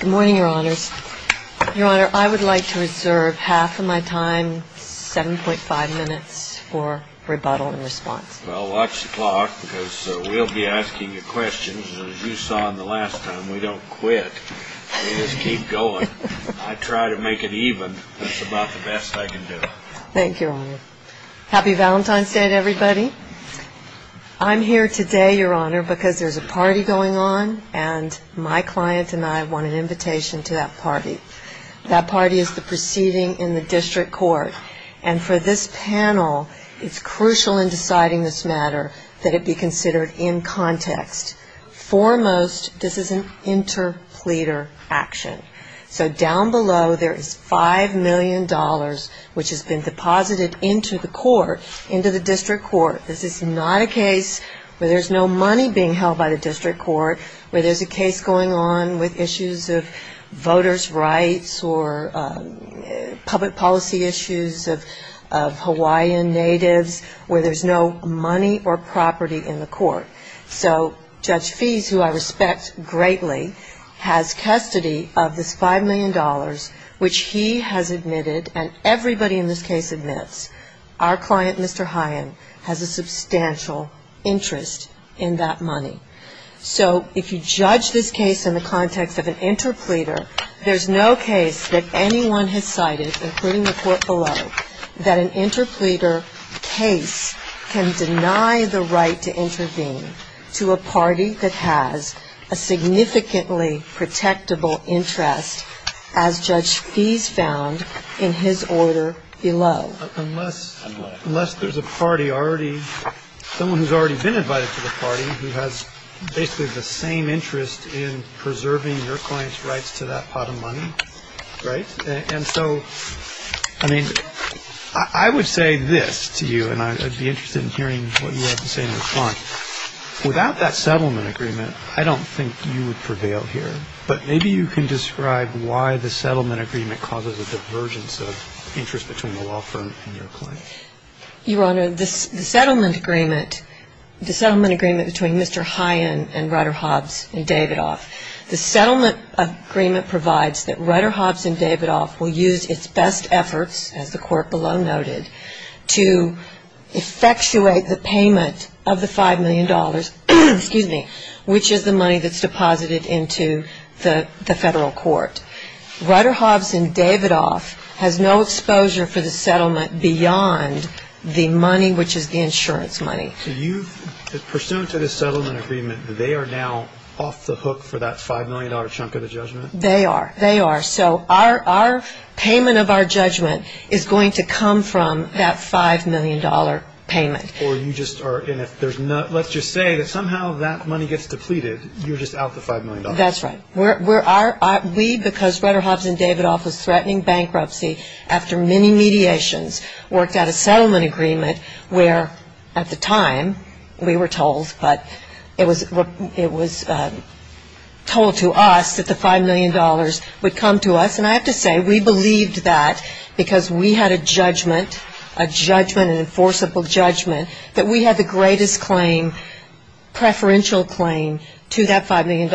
Good morning, Your Honors. Your Honor, I would like to reserve half of my time, 7.5 minutes, for rebuttal and response. Well, watch the clock because we'll be asking you questions, as you saw the last time. We don't quit. We just keep going. I try to make it even. That's about the best I can do. Thank you, Your Honor. Happy Valentine's Day to everybody. I'm here today, Your Honor, because there's a party going on, and my client and I want an invitation to that party. That party is the proceeding in the district court. And for this panel, it's crucial in deciding this matter that it be considered in context. Foremost, this is an interpleader action. So down below, there is $5 million which has been deposited into the court, into the district court. This is not a case where there's no money being held by the district court, where there's a case going on with issues of voters' rights or public policy issues of Hawaiian natives, where there's no money or property in the court. So Judge Fees, who I respect greatly, has custody of this $5 million, which he has admitted, and everybody in this case admits, our client, Mr. Hyen, has a substantial interest in that money. So if you judge this case in the context of an interpleader, there's no case that anyone has cited, including the court below, that an interpleader case can deny the right to intervene to a party that has a significantly protectable interest, as Judge Fees found in his order below. Unless there's a party already, someone who's already been invited to the party, who has basically the same interest in preserving your client's rights to that pot of money, right? And so, I mean, I would say this to you, and I'd be interested in hearing what you have to say in response. Without that settlement agreement, I don't think you would prevail here. But maybe you can describe why the settlement agreement causes a divergence of interest between the law firm and your client. Your Honor, the settlement agreement, the settlement agreement between Mr. Hyen and Ryder Hobbs and Davidoff, the settlement agreement provides that Ryder Hobbs and Davidoff will use its best efforts, as the court below noted, to effectuate the payment of the $5 million, excuse me, which is the money that's deposited into the federal court. Ryder Hobbs and Davidoff has no exposure for the settlement beyond the money, which is the insurance money. So you've, pursuant to this settlement agreement, they are now off the hook for that $5 million chunk of the judgment? They are. They are. So our payment of our judgment is going to come from that $5 million payment. Or you just are, and if there's no, let's just say that somehow that money gets depleted, you're just out the $5 million. That's right. We, because Ryder Hobbs and Davidoff was threatening bankruptcy after many mediations, worked out a settlement agreement where, at the time, we were told, but it was told to us that the $5 million would come to us. And I have to say, we believed that because we had a judgment, a judgment, an enforceable judgment, that we had the greatest claim, preferential claim, to that $5 million.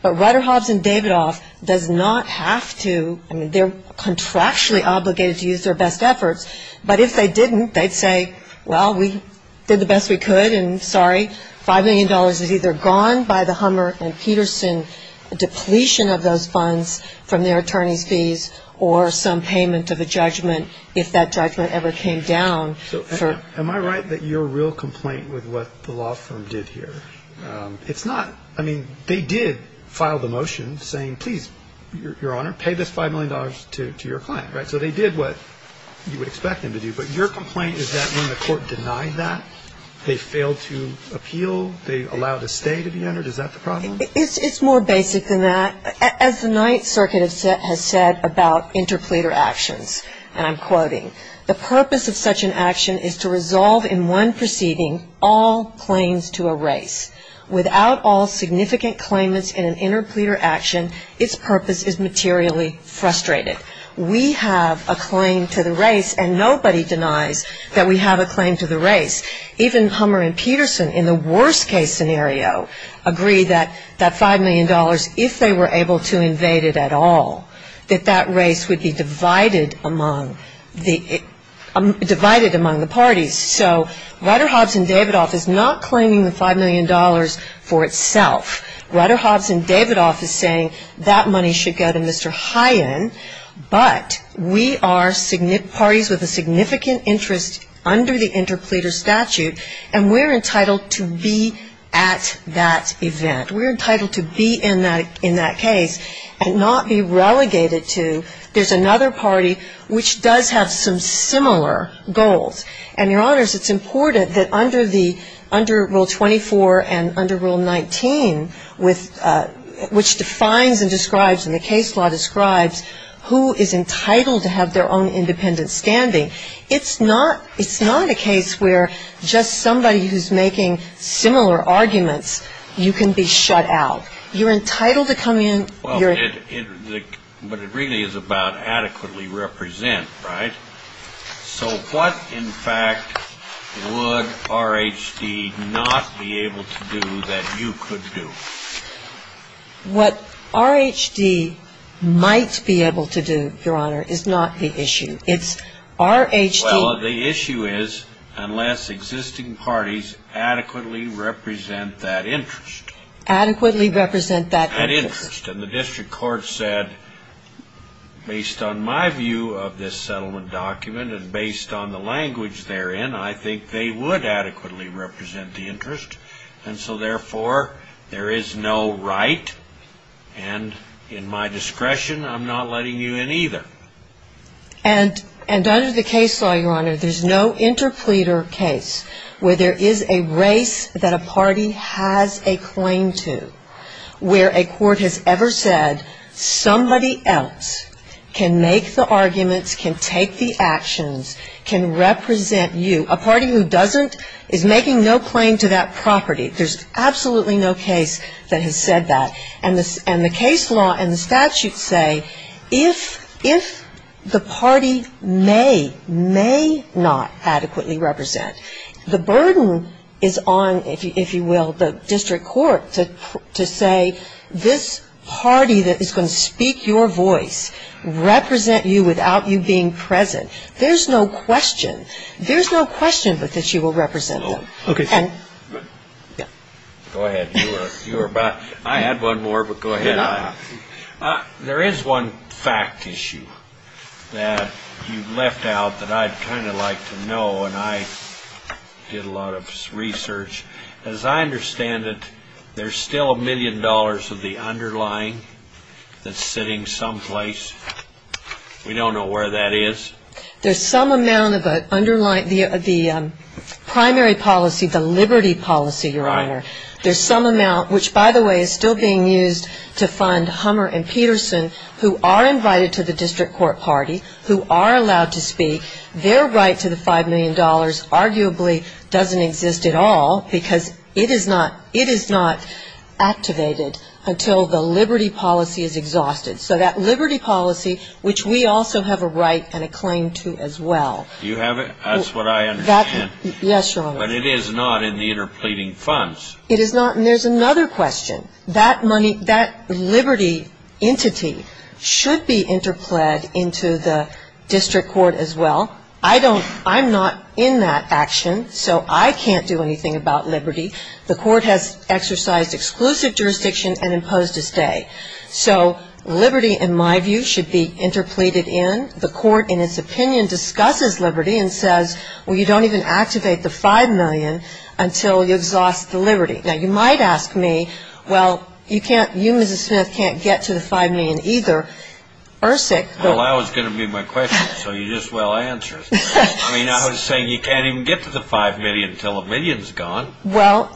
But Ryder Hobbs and Davidoff does not have to, I mean, they're contractually obligated to use their best efforts, but if they didn't, they'd say, well, we did the best we could, and sorry. $5 million is either gone by the Hummer and Peterson depletion of those funds from their attorney's fees or some payment of a judgment if that judgment ever came down. So am I right that you're a real complaint with what the law firm did here? It's not. I mean, they did file the motion saying, please, Your Honor, pay this $5 million to your client, right? So they did what you would expect them to do. But your complaint is that when the court denied that, they failed to appeal? They allowed a stay to be entered? Is that the problem? It's more basic than that. As the Ninth Circuit has said about interpleader actions, and I'm quoting, the purpose of such an action is to resolve in one proceeding all claims to a race. Without all significant claimants in an interpleader action, its purpose is materially frustrated. We have a claim to the race, and nobody denies that we have a claim to the race. Even Hummer and Peterson in the worst-case scenario agree that that $5 million, if they were able to invade it at all, that that race would be divided among the parties. So Ryder, Hobbs, and Davidoff is not claiming the $5 million for itself. Ryder, Hobbs, and Davidoff is saying that money should go to Mr. Hyen, but we are parties with a significant interest under the interpleader statute, and we're entitled to be at that event. We're entitled to be in that case and not be relegated to there's another party which does have some similar goals. And, Your Honors, it's important that under Rule 24 and under Rule 19, which defines and describes and the case law describes who is entitled to have their own independent standing, it's not a case where just somebody who's making similar arguments, you can be shut out. You're entitled to come in. But it really is about adequately represent, right? So what, in fact, would RHD not be able to do that you could do? What RHD might be able to do, Your Honor, is not the issue. It's RHD. Well, the issue is unless existing parties adequately represent that interest. Adequately represent that interest. That interest. And the district court said, based on my view of this settlement document and based on the language therein, I think they would adequately represent the interest. And so, therefore, there is no right, and in my discretion, I'm not letting you in either. And under the case law, Your Honor, there's no interpleader case where there is a race that a party has a claim to, where a court has ever said somebody else can make the arguments, can take the actions, can represent you. A party who doesn't is making no claim to that property. There's absolutely no case that has said that. And the case law and the statute say if the party may, may not adequately represent, the burden is on, if you will, the district court to say this party that is going to speak your voice, represent you without you being present. There's no question. There's no question that you will represent them. Okay. Go ahead. I had one more, but go ahead. There is one fact issue that you left out that I'd kind of like to know, and I did a lot of research. As I understand it, there's still a million dollars of the underlying that's sitting someplace. We don't know where that is. There's some amount of the underlying, the primary policy, the liberty policy, Your Honor. There's some amount, which, by the way, is still being used to fund Hummer and Peterson, who are invited to the district court party, who are allowed to speak. Their right to the $5 million arguably doesn't exist at all because it is not, it is not activated until the liberty policy is exhausted. So that liberty policy, which we also have a right and a claim to as well. You have it? That's what I understand. Yes, Your Honor. But it is not in the interpleading funds. It is not, and there's another question. That money, that liberty entity should be interpled into the district court as well. I don't, I'm not in that action, so I can't do anything about liberty. The court has exercised exclusive jurisdiction and imposed a stay. So liberty, in my view, should be interpleaded in. The court, in its opinion, discusses liberty and says, well, you don't even activate the $5 million until you exhaust the liberty. Now, you might ask me, well, you can't, you, Mrs. Smith, can't get to the $5 million either. Ersic. Well, that was going to be my question, so you just well answered. I mean, I was saying you can't even get to the $5 million until a million is gone. Well,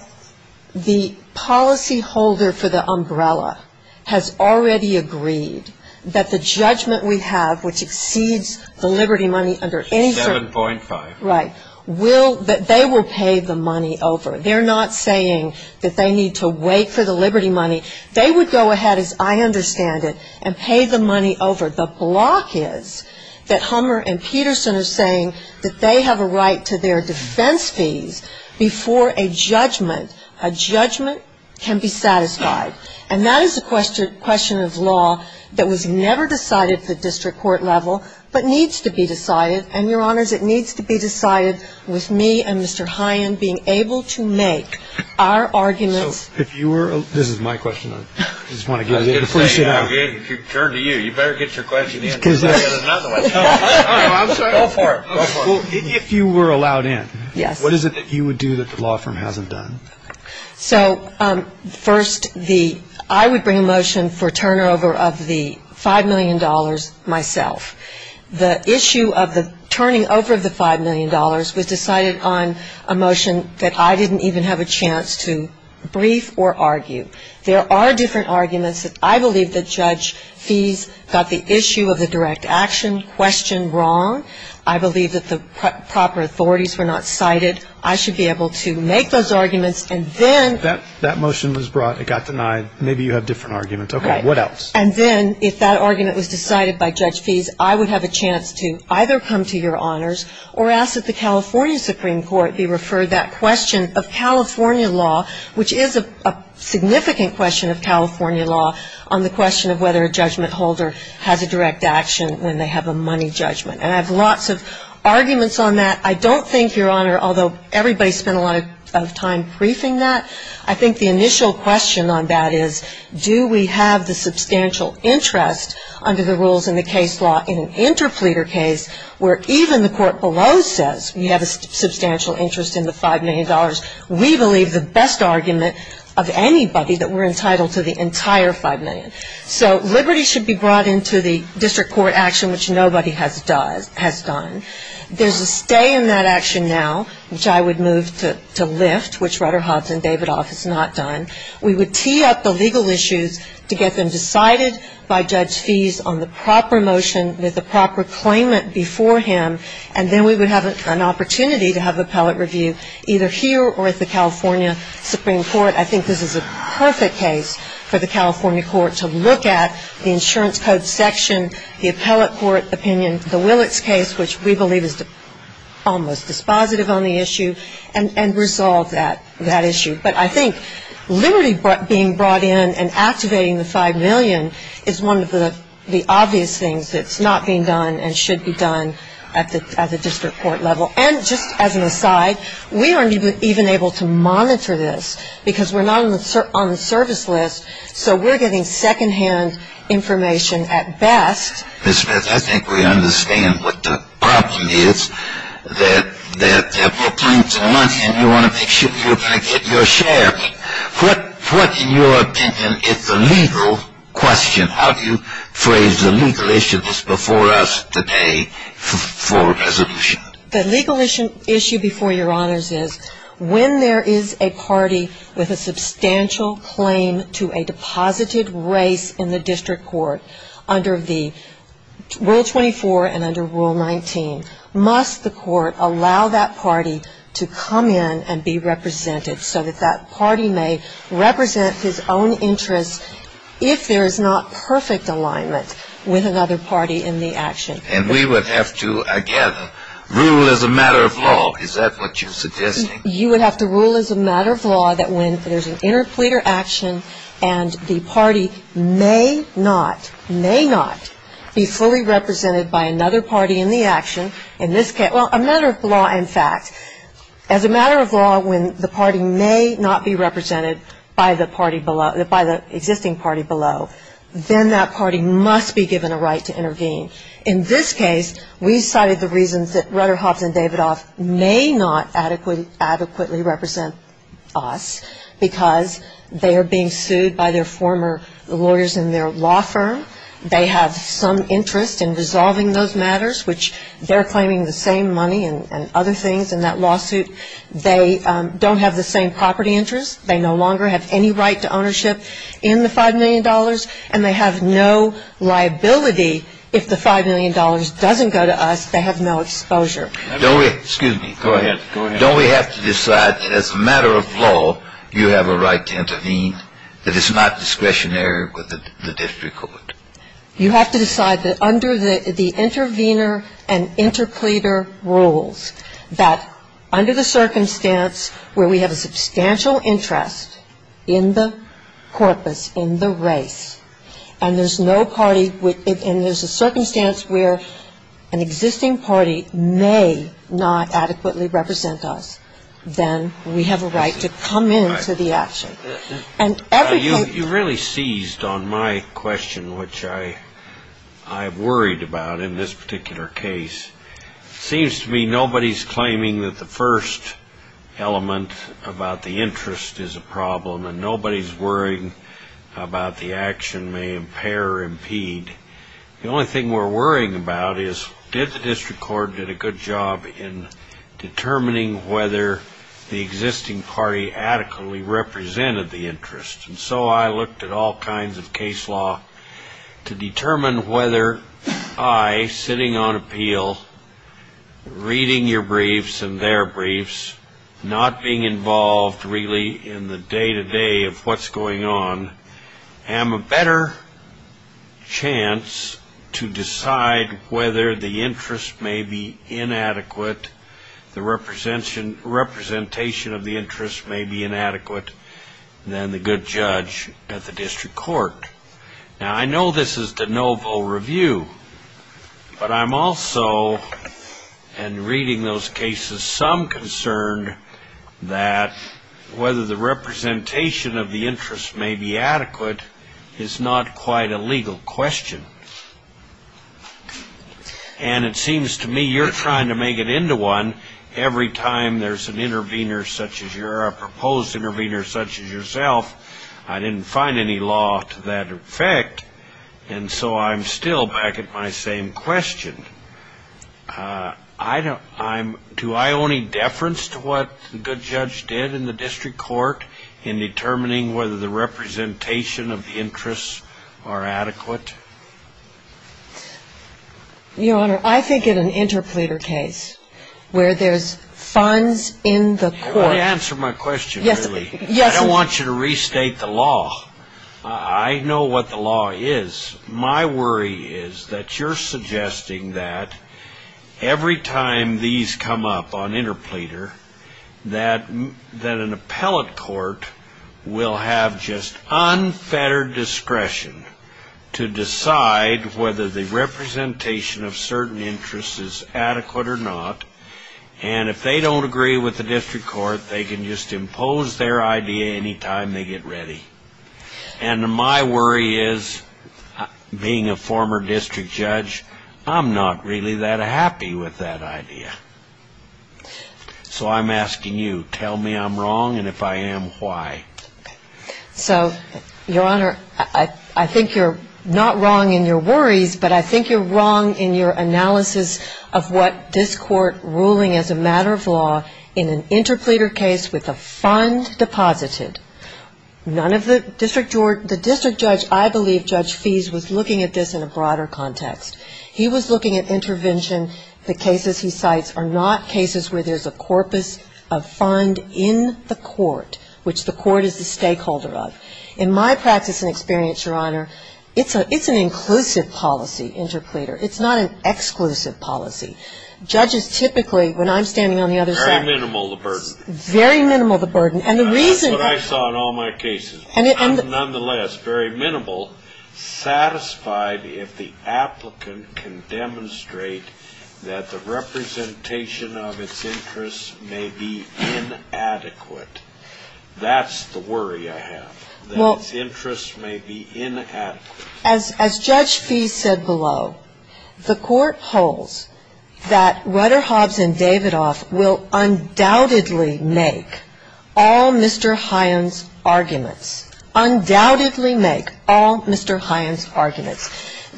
the policy holder for the umbrella has already agreed that the judgment we have, which exceeds the liberty money under insert. 7.5. Right. Will, that they will pay the money over. They're not saying that they need to wait for the liberty money. They would go ahead, as I understand it, and pay the money over. The block is that Hummer and Peterson are saying that they have a right to their defense fees before a judgment. A judgment can be satisfied. And that is a question of law that was never decided at the district court level, but needs to be decided. And, Your Honors, it needs to be decided with me and Mr. Hyen being able to make our arguments. So if you were, this is my question. I just want to get it. You better get your question answered. If you were allowed in, what is it that you would do that the law firm hasn't done? So first, I would bring a motion for turnover of the $5 million myself. The issue of the turning over of the $5 million was decided on a motion that I didn't even have a chance to brief or argue. There are different arguments. I believe that Judge Fees got the issue of the direct action question wrong. I believe that the proper authorities were not cited. I should be able to make those arguments. And then ‑‑ That motion was brought. It got denied. Maybe you have different arguments. Okay. What else? And then if that argument was decided by Judge Fees, I would have a chance to either come to Your Honors or ask that the California Supreme Court be referred that question of California law, which is a significant question of California law, on the question of whether a judgment holder has a direct action when they have a money judgment. And I have lots of arguments on that. I don't think, Your Honor, although everybody spent a lot of time briefing that, I think the initial question on that is do we have the substantial interest under the rules in the case law in an interpleader case where even the court below says we have a substantial interest in the $5 million. We believe the best argument of anybody that we're entitled to the entire $5 million. So liberty should be brought into the district court action, which nobody has done. There's a stay in that action now, which I would move to lift, which Rutter, Hobbs, and Davidoff has not done. We would tee up the legal issues to get them decided by Judge Fees on the proper motion with the proper claimant before him, and then we would have an opportunity to have appellate review either here or at the California Supreme Court. I think this is a perfect case for the California court to look at the insurance code section, the appellate court opinion, the Willits case, which we believe is almost dispositive on the issue, and resolve that issue. But I think liberty being brought in and activating the $5 million is one of the obvious things that's not being done and should be done at the district court level. And just as an aside, we aren't even able to monitor this because we're not on the service list, so we're getting secondhand information at best. Ms. Smith, I think we understand what the problem is, that there are more claims than money, and you want to make sure you're going to get your share. What, in your opinion, is the legal question? How do you phrase the legal issue that's before us today for resolution? The legal issue before your honors is when there is a party with a substantial claim to a deposited race in the district court under the Rule 24 and under Rule 19. Must the court allow that party to come in and be represented so that that party may represent his own interest if there is not perfect alignment with another party in the action? And we would have to, again, rule as a matter of law. Is that what you're suggesting? You would have to rule as a matter of law that when there's an interpleader action and the party may not, may not be fully represented by another party in the action, in this case, well, a matter of law, in fact. As a matter of law, when the party may not be represented by the party below, by the existing party below, then that party must be given a right to intervene. In this case, we cited the reasons that Rudderhoff and Davidoff may not adequately represent us because they are being sued by their former lawyers in their law firm. They have some interest in resolving those matters, which they're claiming the same money and other things in that lawsuit. They don't have the same property interest. They no longer have any right to ownership in the $5 million. And they have no liability if the $5 million doesn't go to us. They have no exposure. Excuse me. Go ahead. Go ahead. Don't we have to decide as a matter of law you have a right to intervene, that it's not discretionary with the district court? You have to decide that under the intervener and interpleader rules, that under the circumstance where we have a substantial interest in the corpus, in the race, and there's no party within, and there's a circumstance where an existing party may not adequately represent us, then we have a right to come into the action. And every party You really seized on my question, which I have worried about in this particular case. It seems to me nobody's claiming that the first element about the interest is a problem, and nobody's worrying about the action may impair or impede. The only thing we're worrying about is did the district court did a good job in determining whether the existing party adequately represented the interest. And so I looked at all kinds of case law to determine whether I, sitting on appeal, reading your briefs and their briefs, not being involved really in the day-to-day of what's going on, am a better chance to decide whether the interest may be inadequate, the representation of the interest may be inadequate than the good judge at the district court. Now, I know this is de novo review, but I'm also, in reading those cases, some concern that whether the representation of the interest may be adequate is not quite a legal question. And it seems to me you're trying to make it into one. Every time there's an intervener such as you're a proposed intervener such as yourself, I didn't find any law to that effect, and so I'm still back at my same question. Do I owe any deference to what the good judge did in the district court in determining whether the representation of the interest are adequate? Your Honor, I think in an interpleader case where there's funds in the court. Let me answer my question, really. Yes. I don't want you to restate the law. I know what the law is. My worry is that you're suggesting that every time these come up on interpleader, that an appellate court will have just unfettered discretion to decide whether the representation of certain interest is adequate or not, and if they don't agree with the district court, they can just impose their idea any time they get ready. And my worry is, being a former district judge, I'm not really that happy with that idea. So I'm asking you, tell me I'm wrong, and if I am, why? So, Your Honor, I think you're not wrong in your worries, but I think you're wrong in your analysis of what this Court ruling as a matter of law in an interpleader case with a fund deposited. None of the district judge, I believe Judge Fease was looking at this in a broader context. He was looking at intervention, the cases he cites are not cases where there's a corpus of fund in the court, which the court is the stakeholder of. In my practice and experience, Your Honor, it's an inclusive policy, interpleader. It's not an exclusive policy. Judges typically, when I'm standing on the other side of the room. Very minimal the burden. Very minimal the burden. That's what I saw in all my cases. I'm nonetheless very minimal satisfied if the applicant can demonstrate that the representation of its interests may be inadequate. That's the worry I have, that its interests may be inadequate. As Judge Fease said below, the court holds that Rutter, Hobbs, and Davidoff will undoubtedly make all Mr. Hines' arguments. Undoubtedly make all Mr. Hines' arguments.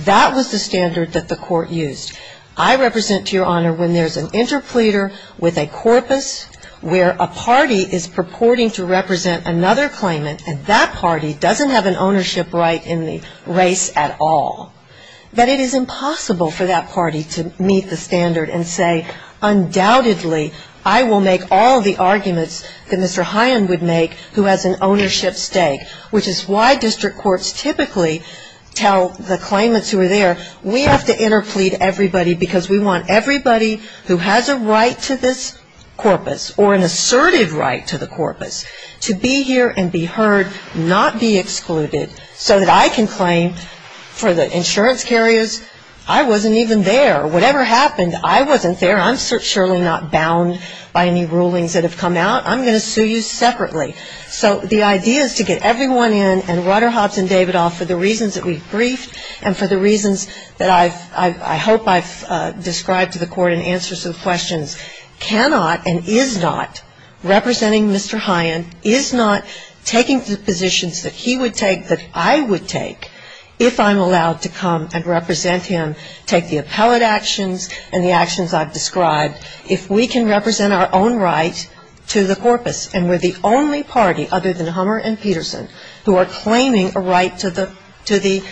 That was the standard that the court used. I represent, to Your Honor, when there's an interpleader with a corpus where a party is purporting to represent another claimant and that party doesn't have an ownership right in the race at all, that it is impossible for that party to meet the standard and say, undoubtedly I will make all the arguments that Mr. Hines would make who has an ownership stake. Which is why district courts typically tell the claimants who are there, we have to interplead everybody because we want everybody who has a right to this corpus or an assertive right to the corpus to be here and be heard, not be excluded, so that I can claim for the insurance carriers, I wasn't even there. Whatever happened, I wasn't there. I'm surely not bound by any rulings that have come out. I'm going to sue you separately. So the idea is to get everyone in and Rutter, Hobbs, and Davidoff, for the reasons that we've briefed and for the reasons that I hope I've described to the court and answered some questions, cannot and is not representing Mr. Hines, is not taking the positions that he would take that I would take if I'm allowed to come and represent him, take the appellate actions and the actions I've described, if we can represent our own right to the corpus and we're the only party other than Hummer and Peterson who are claiming a right to the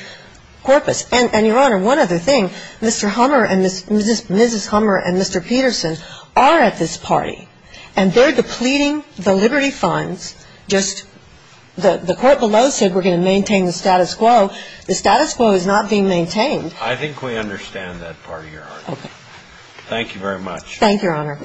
corpus. And, Your Honor, one other thing, Mr. Hummer and Mrs. Hummer and Mr. Peterson are at this party, and they're depleting the liberty funds just the court below said we're going to maintain the status quo. The status quo is not being maintained. I think we understand that part of your argument. Thank you very much. Thank you, Your Honor.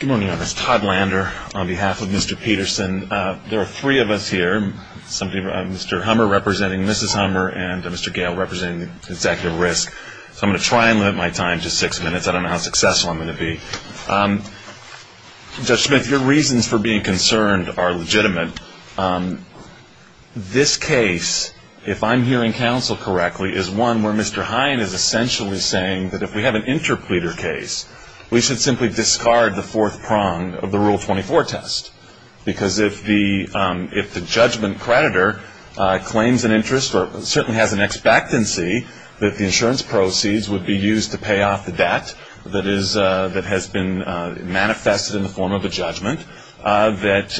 Good morning, Your Honor. This is Todd Lander on behalf of Mr. Peterson. There are three of us here, Mr. Hummer representing Mrs. Hummer, and Mr. Gale representing the Executive Risk. So I'm going to try and limit my time to six minutes. I don't know how successful I'm going to be. Judge Smith, your reasons for being concerned are legitimate. This case, if I'm hearing counsel correctly, is one where Mr. Hine is essentially saying that if we have an interpleader case, we should simply discard the fourth prong of the Rule 24 test, because if the judgment creditor claims an interest or certainly has an expectancy that the insurance proceeds would be used to pay off the debt that has been manifested in the form of a judgment, that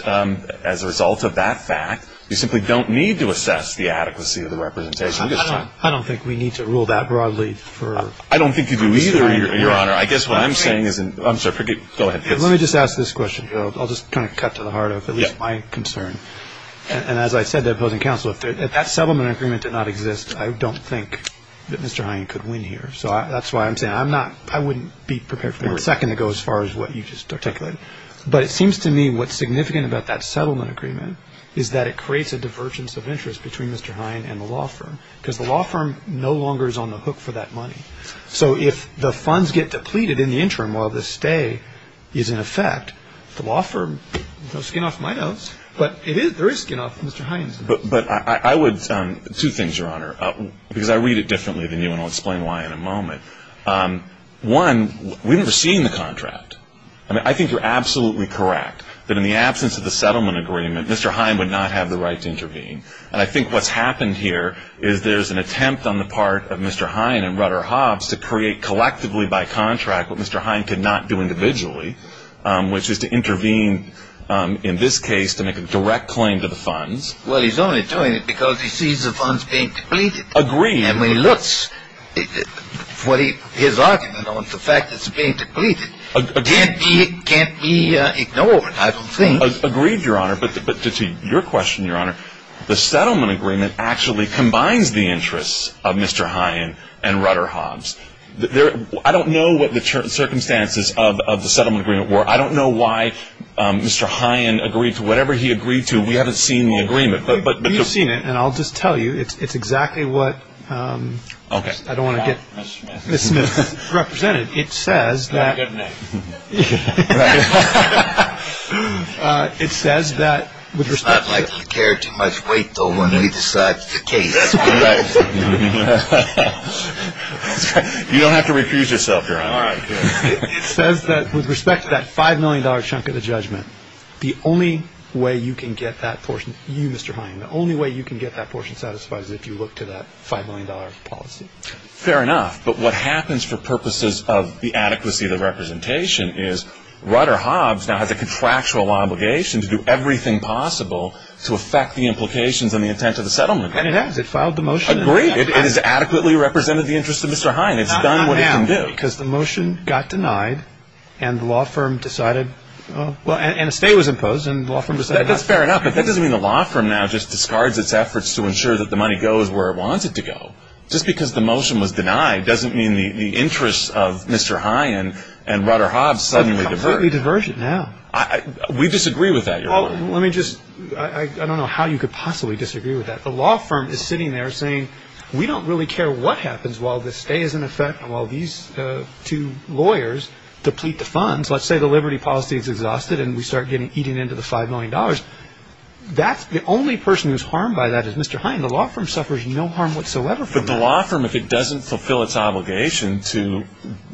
as a result of that fact, you simply don't need to assess the adequacy of the representation. I don't think we need to rule that broadly for Mr. Hine. I don't think you do either, Your Honor. I guess what I'm saying is – I'm sorry, go ahead. Let me just ask this question here. I'll just kind of cut to the heart of at least my concern. And as I said to opposing counsel, if that settlement agreement did not exist, I don't think that Mr. Hine could win here. So that's why I'm saying I'm not – I wouldn't be prepared for a second to go as far as what you just articulated. But it seems to me what's significant about that settlement agreement is that it creates a divergence of interest between Mr. Hine and the law firm, because the law firm no longer is on the hook for that money. So if the funds get depleted in the interim while the stay is in effect, the law firm, no skin off my nose, but there is skin off Mr. Hine's nose. But I would – two things, Your Honor, because I read it differently than you, and I'll explain why in a moment. One, we've never seen the contract. I mean, I think you're absolutely correct that in the absence of the settlement agreement, Mr. Hine would not have the right to intervene. And I think what's happened here is there's an attempt on the part of Mr. Hine and Rutter-Hobbs to create collectively by contract what Mr. Hine could not do individually, which is to intervene in this case to make a direct claim to the funds. Well, he's only doing it because he sees the funds being depleted. Agreed. And when he looks, his argument on the fact that it's being depleted can't be ignored, I don't think. Agreed, Your Honor, but to your question, Your Honor, the settlement agreement actually combines the interests of Mr. Hine and Rutter-Hobbs. I don't know what the circumstances of the settlement agreement were. I don't know why Mr. Hine agreed to whatever he agreed to. We haven't seen the agreement. You've seen it, and I'll just tell you it's exactly what I don't want to get misrepresented. Your Honor, it says that with respect to that $5 million chunk of the judgment, the only way you can get that portion, you, Mr. Hine, the only way you can get that portion satisfied is if you look to that $5 million policy. Fair enough. But what happens for purposes of the adequacy of the representation is Rutter-Hobbs now has a contractual obligation to do everything possible to affect the implications and the intent of the settlement agreement. And it has. It filed the motion. Agreed. It has adequately represented the interests of Mr. Hine. It's done what it can do. Not now, because the motion got denied, and the law firm decided, well, and a stay was imposed, and the law firm decided not to. That's fair enough, but that doesn't mean the law firm now just discards its efforts to ensure that the money goes where it wants it to go. Just because the motion was denied doesn't mean the interests of Mr. Hine and Rutter-Hobbs suddenly diverge. They're completely divergent now. We disagree with that, Your Honor. Well, let me just, I don't know how you could possibly disagree with that. The law firm is sitting there saying, we don't really care what happens while the stay is in effect and while these two lawyers deplete the funds. Let's say the liberty policy is exhausted and we start eating into the $5 million. That's the only person who's harmed by that is Mr. Hine. Mr. Hine, the law firm suffers no harm whatsoever from this. But the law firm, if it doesn't fulfill its obligation to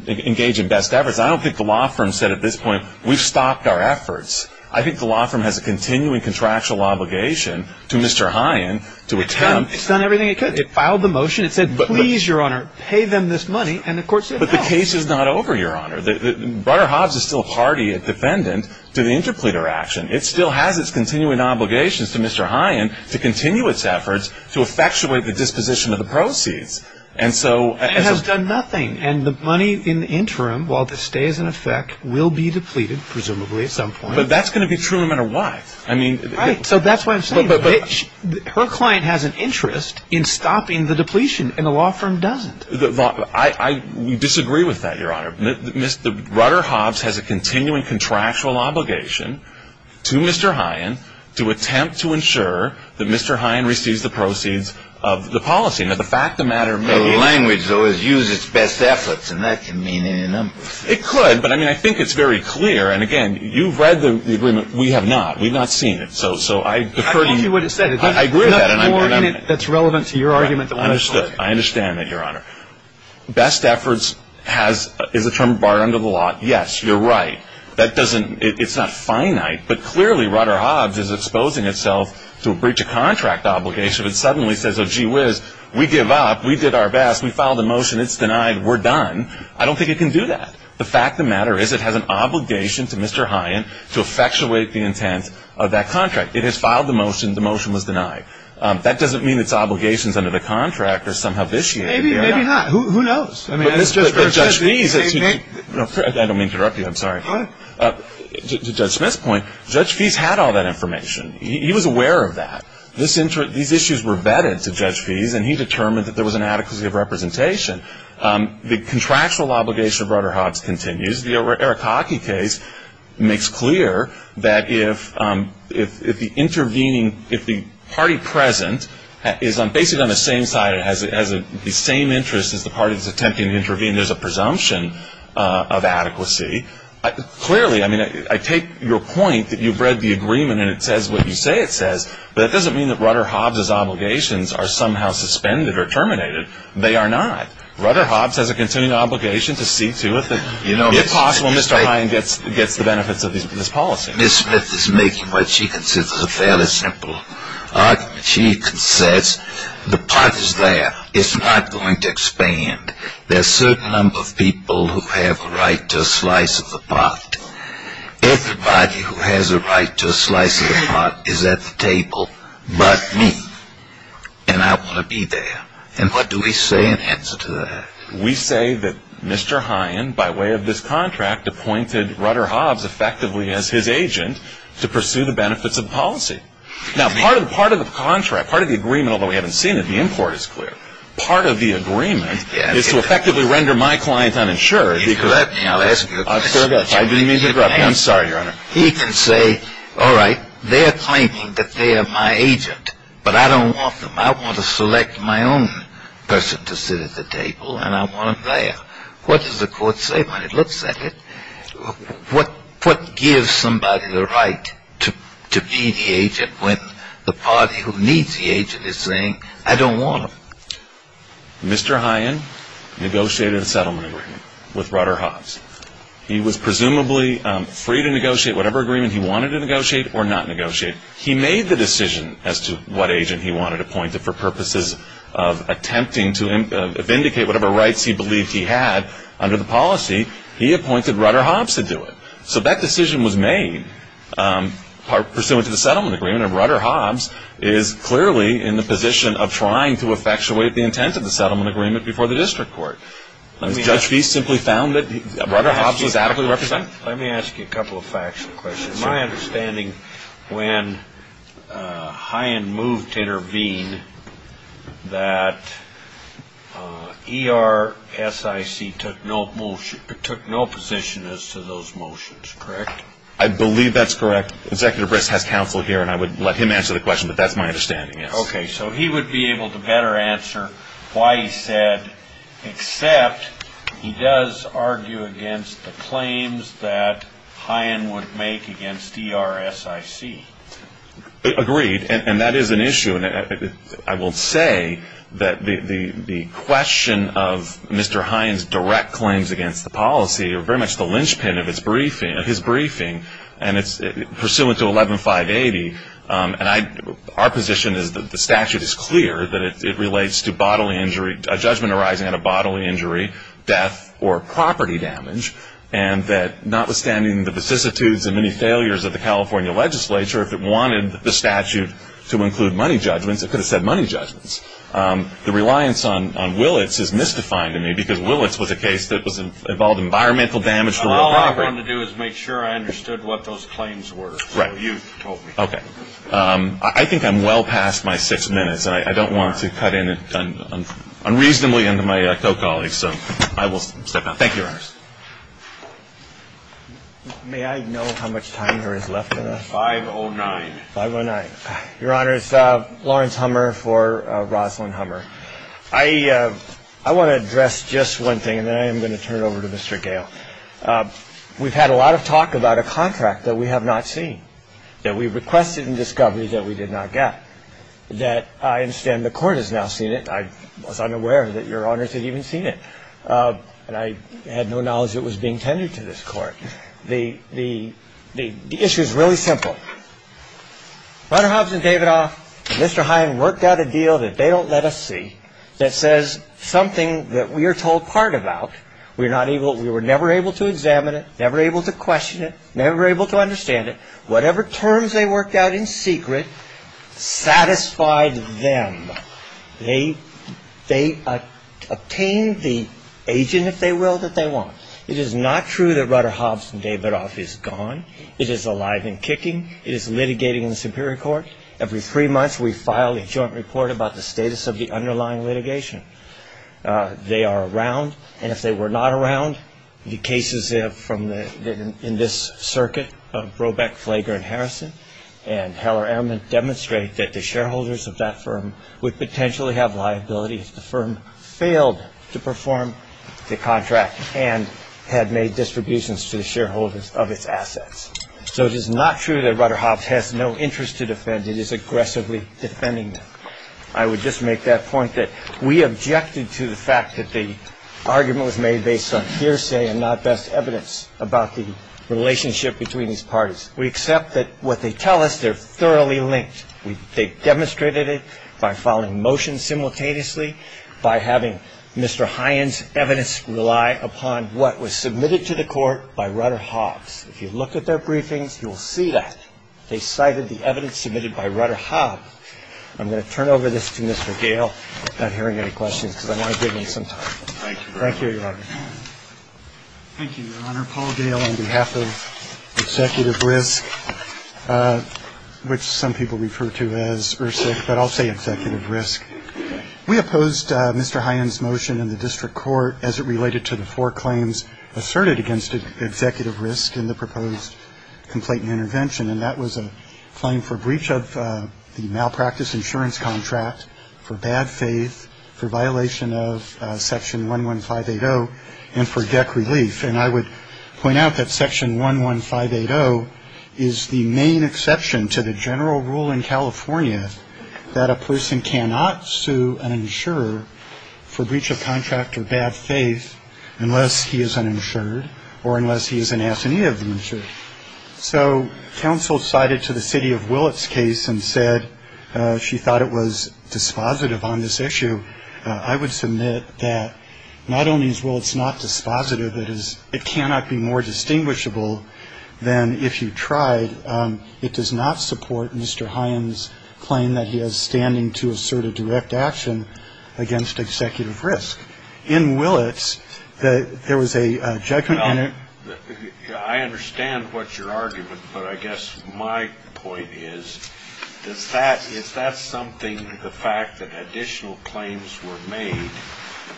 engage in best efforts, I don't think the law firm said at this point, we've stopped our efforts. I think the law firm has a continuing contractual obligation to Mr. Hine to attempt. It's done everything it could. It filed the motion. It said, please, Your Honor, pay them this money, and the court said no. But the case is not over, Your Honor. Rutter-Hobbs is still a party, a defendant, to the interpleader action. It still has its continuing obligations to Mr. Hine to continue its efforts to effectuate the disposition of the proceeds. It has done nothing, and the money in the interim, while the stay is in effect, will be depleted presumably at some point. But that's going to be true no matter what. Right. So that's what I'm saying. Her client has an interest in stopping the depletion, and the law firm doesn't. I disagree with that, Your Honor. Rutter-Hobbs has a continuing contractual obligation to Mr. Hine to attempt to ensure that Mr. Hine receives the proceeds of the policy. Now, the fact of the matter may be the language, though, is use its best efforts, and that can mean any number. It could, but, I mean, I think it's very clear. And, again, you've read the agreement. We have not. We've not seen it. I told you what it said. I agree with that. There's nothing more in it that's relevant to your argument than what it says. I understand that, Your Honor. Best efforts is a term barred under the law. Yes, you're right. It's not finite. But, clearly, Rutter-Hobbs is exposing itself to a breach of contract obligation that suddenly says, oh, gee whiz, we give up. We did our best. We filed a motion. It's denied. We're done. I don't think it can do that. The fact of the matter is it has an obligation to Mr. Hine to effectuate the intent of that contract. It has filed the motion. The motion was denied. That doesn't mean its obligations under the contract are somehow vitiated. Maybe not. Who knows? But Judge Fies, I don't mean to interrupt you. I'm sorry. To Judge Smith's point, Judge Fies had all that information. He was aware of that. These issues were vetted to Judge Fies, and he determined that there was an adequacy of representation. The contractual obligation of Rutter-Hobbs continues. case makes clear that if the intervening, if the party present is basically on the same side, has the same interest as the party that's attempting to intervene, there's a presumption of adequacy. Clearly, I mean, I take your point that you've read the agreement and it says what you say it says, but that doesn't mean that Rutter-Hobbs' obligations are somehow suspended or terminated. They are not. Rutter-Hobbs has a continuing obligation to see to it that, if possible, Mr. Hine gets the benefits of this policy. Ms. Smith is making what she considers a fairly simple argument. She says the pot is there. It's not going to expand. There's a certain number of people who have a right to a slice of the pot. Everybody who has a right to a slice of the pot is at the table but me, and I want to be there. And what do we say in answer to that? We say that Mr. Hine, by way of this contract, appointed Rutter-Hobbs effectively as his agent to pursue the benefits of policy. Now, part of the contract, part of the agreement, although we haven't seen it, the import is clear, part of the agreement is to effectively render my client uninsured. You corrupt me. I'll ask you a question. I didn't mean to corrupt you. I'm sorry, Your Honor. He can say, all right, they're claiming that they are my agent, but I don't want them. I want to select my own person to sit at the table, and I want them there. What does the court say when it looks at it? What gives somebody the right to be the agent when the party who needs the agent is saying, I don't want them? Mr. Hine negotiated a settlement agreement with Rutter-Hobbs. He was presumably free to negotiate whatever agreement he wanted to negotiate or not negotiate. He made the decision as to what agent he wanted appointed for purposes of attempting to vindicate whatever rights he believed he had under the policy. He appointed Rutter-Hobbs to do it. So that decision was made pursuant to the settlement agreement, and Rutter-Hobbs is clearly in the position of trying to effectuate the intent of the settlement agreement before the district court. Judge Feist simply found that Rutter-Hobbs was adequately represented. Let me ask you a couple of factual questions. My understanding, when Hine moved to intervene, that ERSIC took no position as to those motions, correct? I believe that's correct. Executive Brist has counsel here, and I would let him answer the question, but that's my understanding. Okay, so he would be able to better answer why he said, except he does argue against the claims that Hine would make against ERSIC. Agreed, and that is an issue. I will say that the question of Mr. Hine's direct claims against the policy are very much the linchpin of his briefing, and it's pursuant to 11-580, and our position is that the statute is clear, that it relates to bodily injury, a judgment arising out of bodily injury, death, or property damage, and that notwithstanding the vicissitudes and many failures of the California legislature, if it wanted the statute to include money judgments, it could have said money judgments. The reliance on Willits is misdefined to me because Willits was a case that involved environmental damage to real property. The only thing I wanted to do is make sure I understood what those claims were. Right. So you told me. Okay. I think I'm well past my six minutes, and I don't want to cut in unreasonably into my co-colleagues, so I will step down. Thank you, Your Honors. May I know how much time there is left of us? 5.09. 5.09. Your Honors, Lawrence Hummer for Rosalynn Hummer. I want to address just one thing, and then I am going to turn it over to Mr. Gale. We've had a lot of talk about a contract that we have not seen, that we requested in discovery that we did not get, that I understand the Court has now seen it. I was unaware that Your Honors had even seen it, and I had no knowledge it was being tended to this Court. The issue is really simple. Rudderhobs and Davidoff and Mr. Hine worked out a deal that they don't let us see that says something that we are told part about. We were never able to examine it, never able to question it, never able to understand it. Whatever terms they worked out in secret satisfied them. They obtained the agent, if they will, that they want. It is not true that Rudderhobs and Davidoff is gone. It is alive and kicking. It is litigating in the Superior Court. Every three months we file a joint report about the status of the underlying litigation. They are around, and if they were not around, the cases in this circuit of Brobeck, Flager, and Harrison and Heller-Ehrman demonstrate that the shareholders of that firm would potentially have liability if the firm failed to perform the contract and had made distributions to the shareholders of its assets. So it is not true that Rudderhobs has no interest to defend. It is aggressively defending them. I would just make that point that we objected to the fact that the argument was made based on hearsay and not best evidence about the relationship between these parties. We accept that what they tell us, they're thoroughly linked. They demonstrated it by filing motions simultaneously, by having Mr. Hines' evidence rely upon what was submitted to the Court by Rudderhobs. If you looked at their briefings, you will see that. They cited the evidence submitted by Rudderhobs. I'm going to turn over this to Mr. Gale, not hearing any questions, because I want to give him some time. Thank you, Your Honor. Thank you, Your Honor. Paul Gale on behalf of Executive Risk, which some people refer to as ERSIC, but I'll say Executive Risk. We opposed Mr. Hines' motion in the district court as it related to the four claims asserted against Executive Risk in the proposed complaint and intervention, and that was a claim for breach of the malpractice insurance contract, for bad faith, for violation of Section 11580, and for debt relief. And I would point out that Section 11580 is the main exception to the general rule in California that a person cannot sue an insurer for breach of contract or bad faith unless he is uninsured or unless he is an assignee of the insurer. So counsel cited to the city of Willett's case and said she thought it was dispositive on this issue. I would submit that not only is Willett's not dispositive, it cannot be more distinguishable than if you tried. It does not support Mr. Hines' claim that he is standing to assert a direct action against Executive Risk. In Willett's, there was a judgment. Well, I understand what your argument, but I guess my point is, is that something, the fact that additional claims were made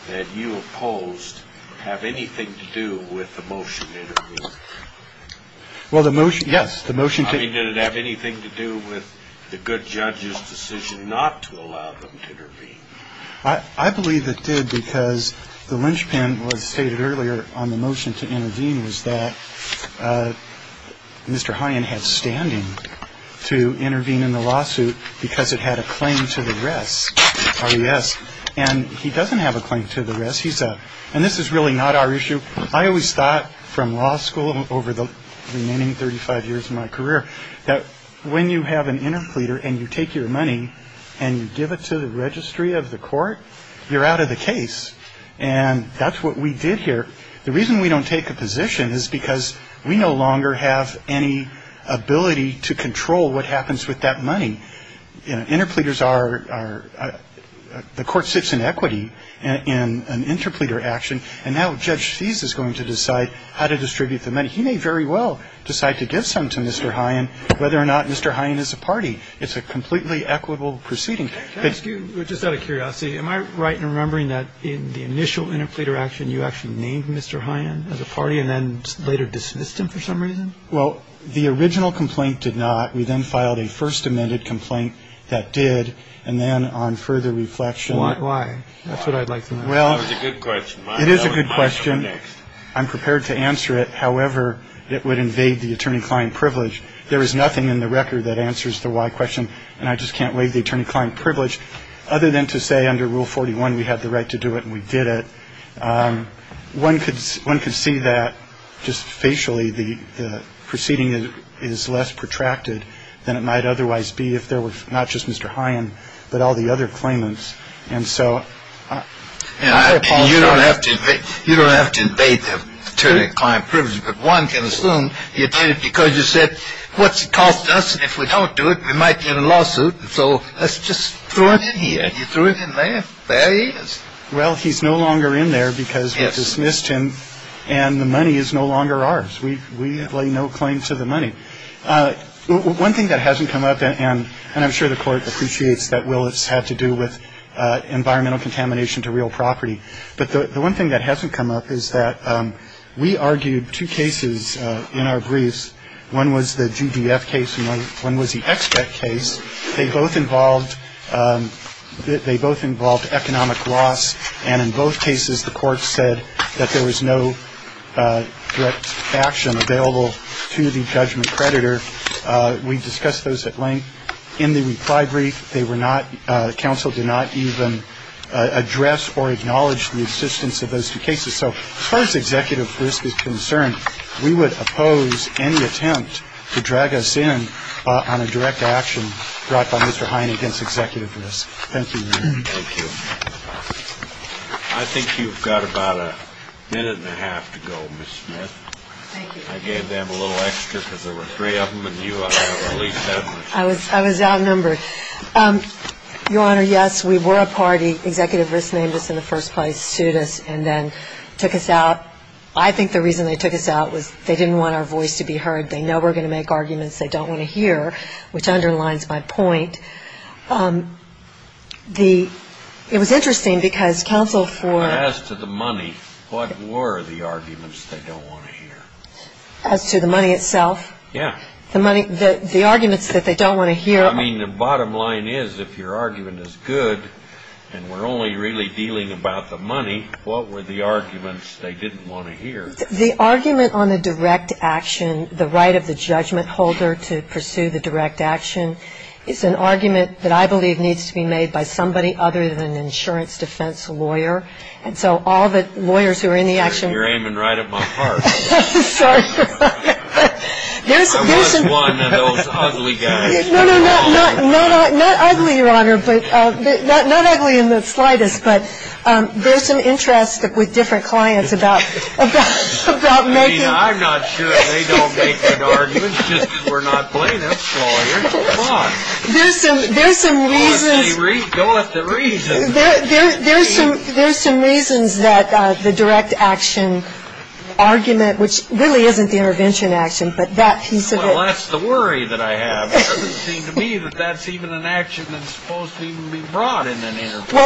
that you opposed, have anything to do with the motion to intervene? Well, the motion, yes, the motion to intervene. I mean, did it have anything to do with the good judge's decision not to allow them to intervene? I believe it did because the linchpin was stated earlier on the motion to intervene was that Mr. Hines had standing to intervene in the lawsuit because it had a claim to the rest, RES. And he doesn't have a claim to the rest. He's a – and this is really not our issue. I always thought from law school over the remaining 35 years of my career that when you have an interpleader and you take your money and you give it to the registry of the court, you're out of the case. And that's what we did here. The reason we don't take a position is because we no longer have any ability to control what happens with that money. Interpleaders are – the court sits in equity in an interpleader action, and now Judge Seas is going to decide how to distribute the money. He may very well decide to give some to Mr. Hines, whether or not Mr. Hines is a party. It's a completely equitable proceeding. Can I ask you, just out of curiosity, am I right in remembering that in the initial interpleader action you actually named Mr. Hines as a party and then later dismissed him for some reason? Well, the original complaint did not. We then filed a first amended complaint that did. And then on further reflection – Why? That's what I'd like to know. Well – That was a good question. It is a good question. I'm prepared to answer it however it would invade the attorney-client privilege. There is nothing in the record that answers the why question, and I just can't waive the attorney-client privilege other than to say under Rule 41 we had the right to do it and we did it. One could see that just facially the proceeding is less protracted than it might otherwise be if there were not just Mr. Hines but all the other claimants. And so – You don't have to invade the attorney-client privilege, but one can assume you did it because you said, what's it cost us? And if we don't do it, we might get a lawsuit. So let's just throw it in here. You threw it in there. There he is. Well, he's no longer in there because we dismissed him and the money is no longer ours. We lay no claim to the money. One thing that hasn't come up, and I'm sure the court appreciates that Willis had to do with environmental contamination to real property, but the one thing that hasn't come up is that we argued two cases in our briefs. One was the GDF case and one was the EXPECT case. They both involved economic loss, and in both cases the court said that there was no direct action available to the judgment creditor. We discussed those at length. In the reply brief, they were not – counsel did not even address or acknowledge the existence of those two cases. So as far as executive risk is concerned, we would oppose any attempt to drag us in on a direct action brought by Mr. Hine against executive risk. Thank you, Your Honor. Thank you. I think you've got about a minute and a half to go, Ms. Smith. Thank you. I gave them a little extra because there were three of them and you released that much. I was outnumbered. Your Honor, yes, we were a party. Executive risk named us in the first place, sued us, and then took us out. I think the reason they took us out was they didn't want our voice to be heard. They know we're going to make arguments they don't want to hear, which underlines my point. The – it was interesting because counsel for – As to the money, what were the arguments they don't want to hear? As to the money itself? Yeah. The arguments that they don't want to hear. I mean, the bottom line is if your argument is good and we're only really dealing about the money, what were the arguments they didn't want to hear? The argument on a direct action, the right of the judgment holder to pursue the direct action, is an argument that I believe needs to be made by somebody other than an insurance defense lawyer. And so all the lawyers who are in the action – You're aiming right at my heart. Sorry. There's some – I was one of those ugly guys. No, no, not ugly, Your Honor, but – not ugly in the slightest, but there's some interest with different clients about making – I mean, I'm not sure they don't make good arguments, just because we're not playing them. So, you know, come on. There's some reasons – Go with the reason. There's some reasons that the direct action argument, which really isn't the intervention action, but that piece of it – Well, that's the worry that I have. It doesn't seem to me that that's even an action that's supposed to even be brought in an intervention.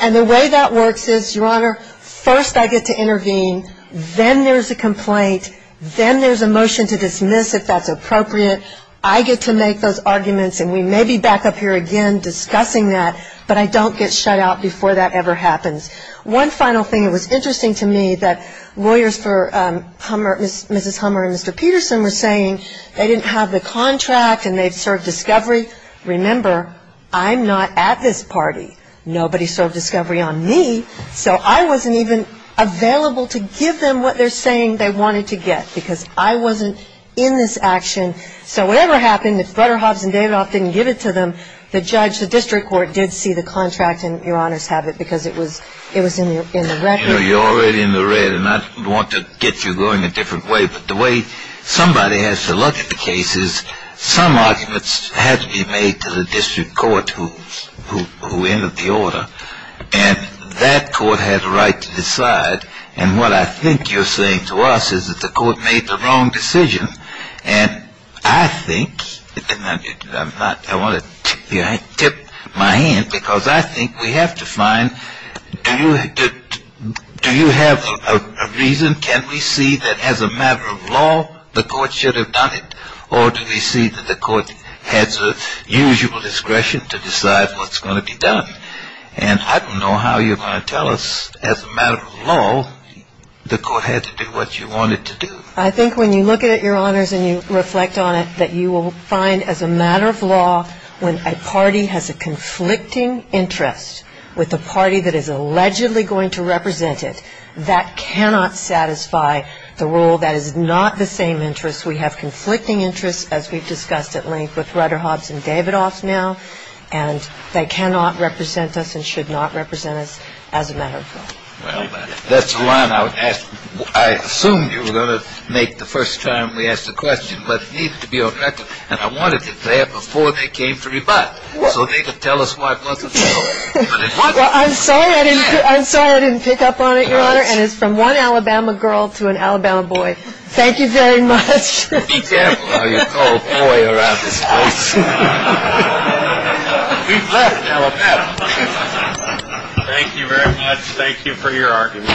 And the way that works is, Your Honor, first I get to intervene, then there's a complaint, then there's a motion to dismiss if that's appropriate. I get to make those arguments, and we may be back up here again discussing that, but I don't get shut out before that ever happens. One final thing. It was interesting to me that lawyers for Mrs. Hummer and Mr. Peterson were saying they didn't have the contract and they've served discovery. Remember, I'm not at this party. Nobody served discovery on me, so I wasn't even available to give them what they're saying they wanted to get, because I wasn't in this action. So whatever happened, if Brutterhoffs and Davidoff didn't give it to them, the judge, the district court, did see the contract, and Your Honor's have it because it was in the record. You know, you're already in the red, and I want to get you going a different way, but the way somebody has to look at the case is some arguments have to be made to the district court who entered the order, and that court had a right to decide. And what I think you're saying to us is that the court made the wrong decision, and I think, and I want to tip my hand because I think we have to find, do you have a reason? Can we see that as a matter of law the court should have done it, or do we see that the court has a usual discretion to decide what's going to be done? And I don't know how you're going to tell us as a matter of law the court had to do what you wanted to do. I think when you look at it, Your Honors, and you reflect on it, that you will find as a matter of law when a party has a conflicting interest with a party that is allegedly going to represent it, that cannot satisfy the rule that is not the same interest. We have conflicting interests, as we've discussed at length, with Rutterhoffs and Davidoffs now, and they cannot represent us and should not represent us as a matter of law. Well, that's the line I would ask. I assumed you were going to make the first time we asked the question, but it needs to be on record, and I wanted it there before they came to rebut, so they could tell us why it wasn't so. Well, I'm sorry I didn't pick up on it, Your Honor, and it's from one Alabama girl to an Alabama boy. Thank you very much. Be careful how you call boy around this place. We've left Alabama. Thank you very much. Thank you for your argument.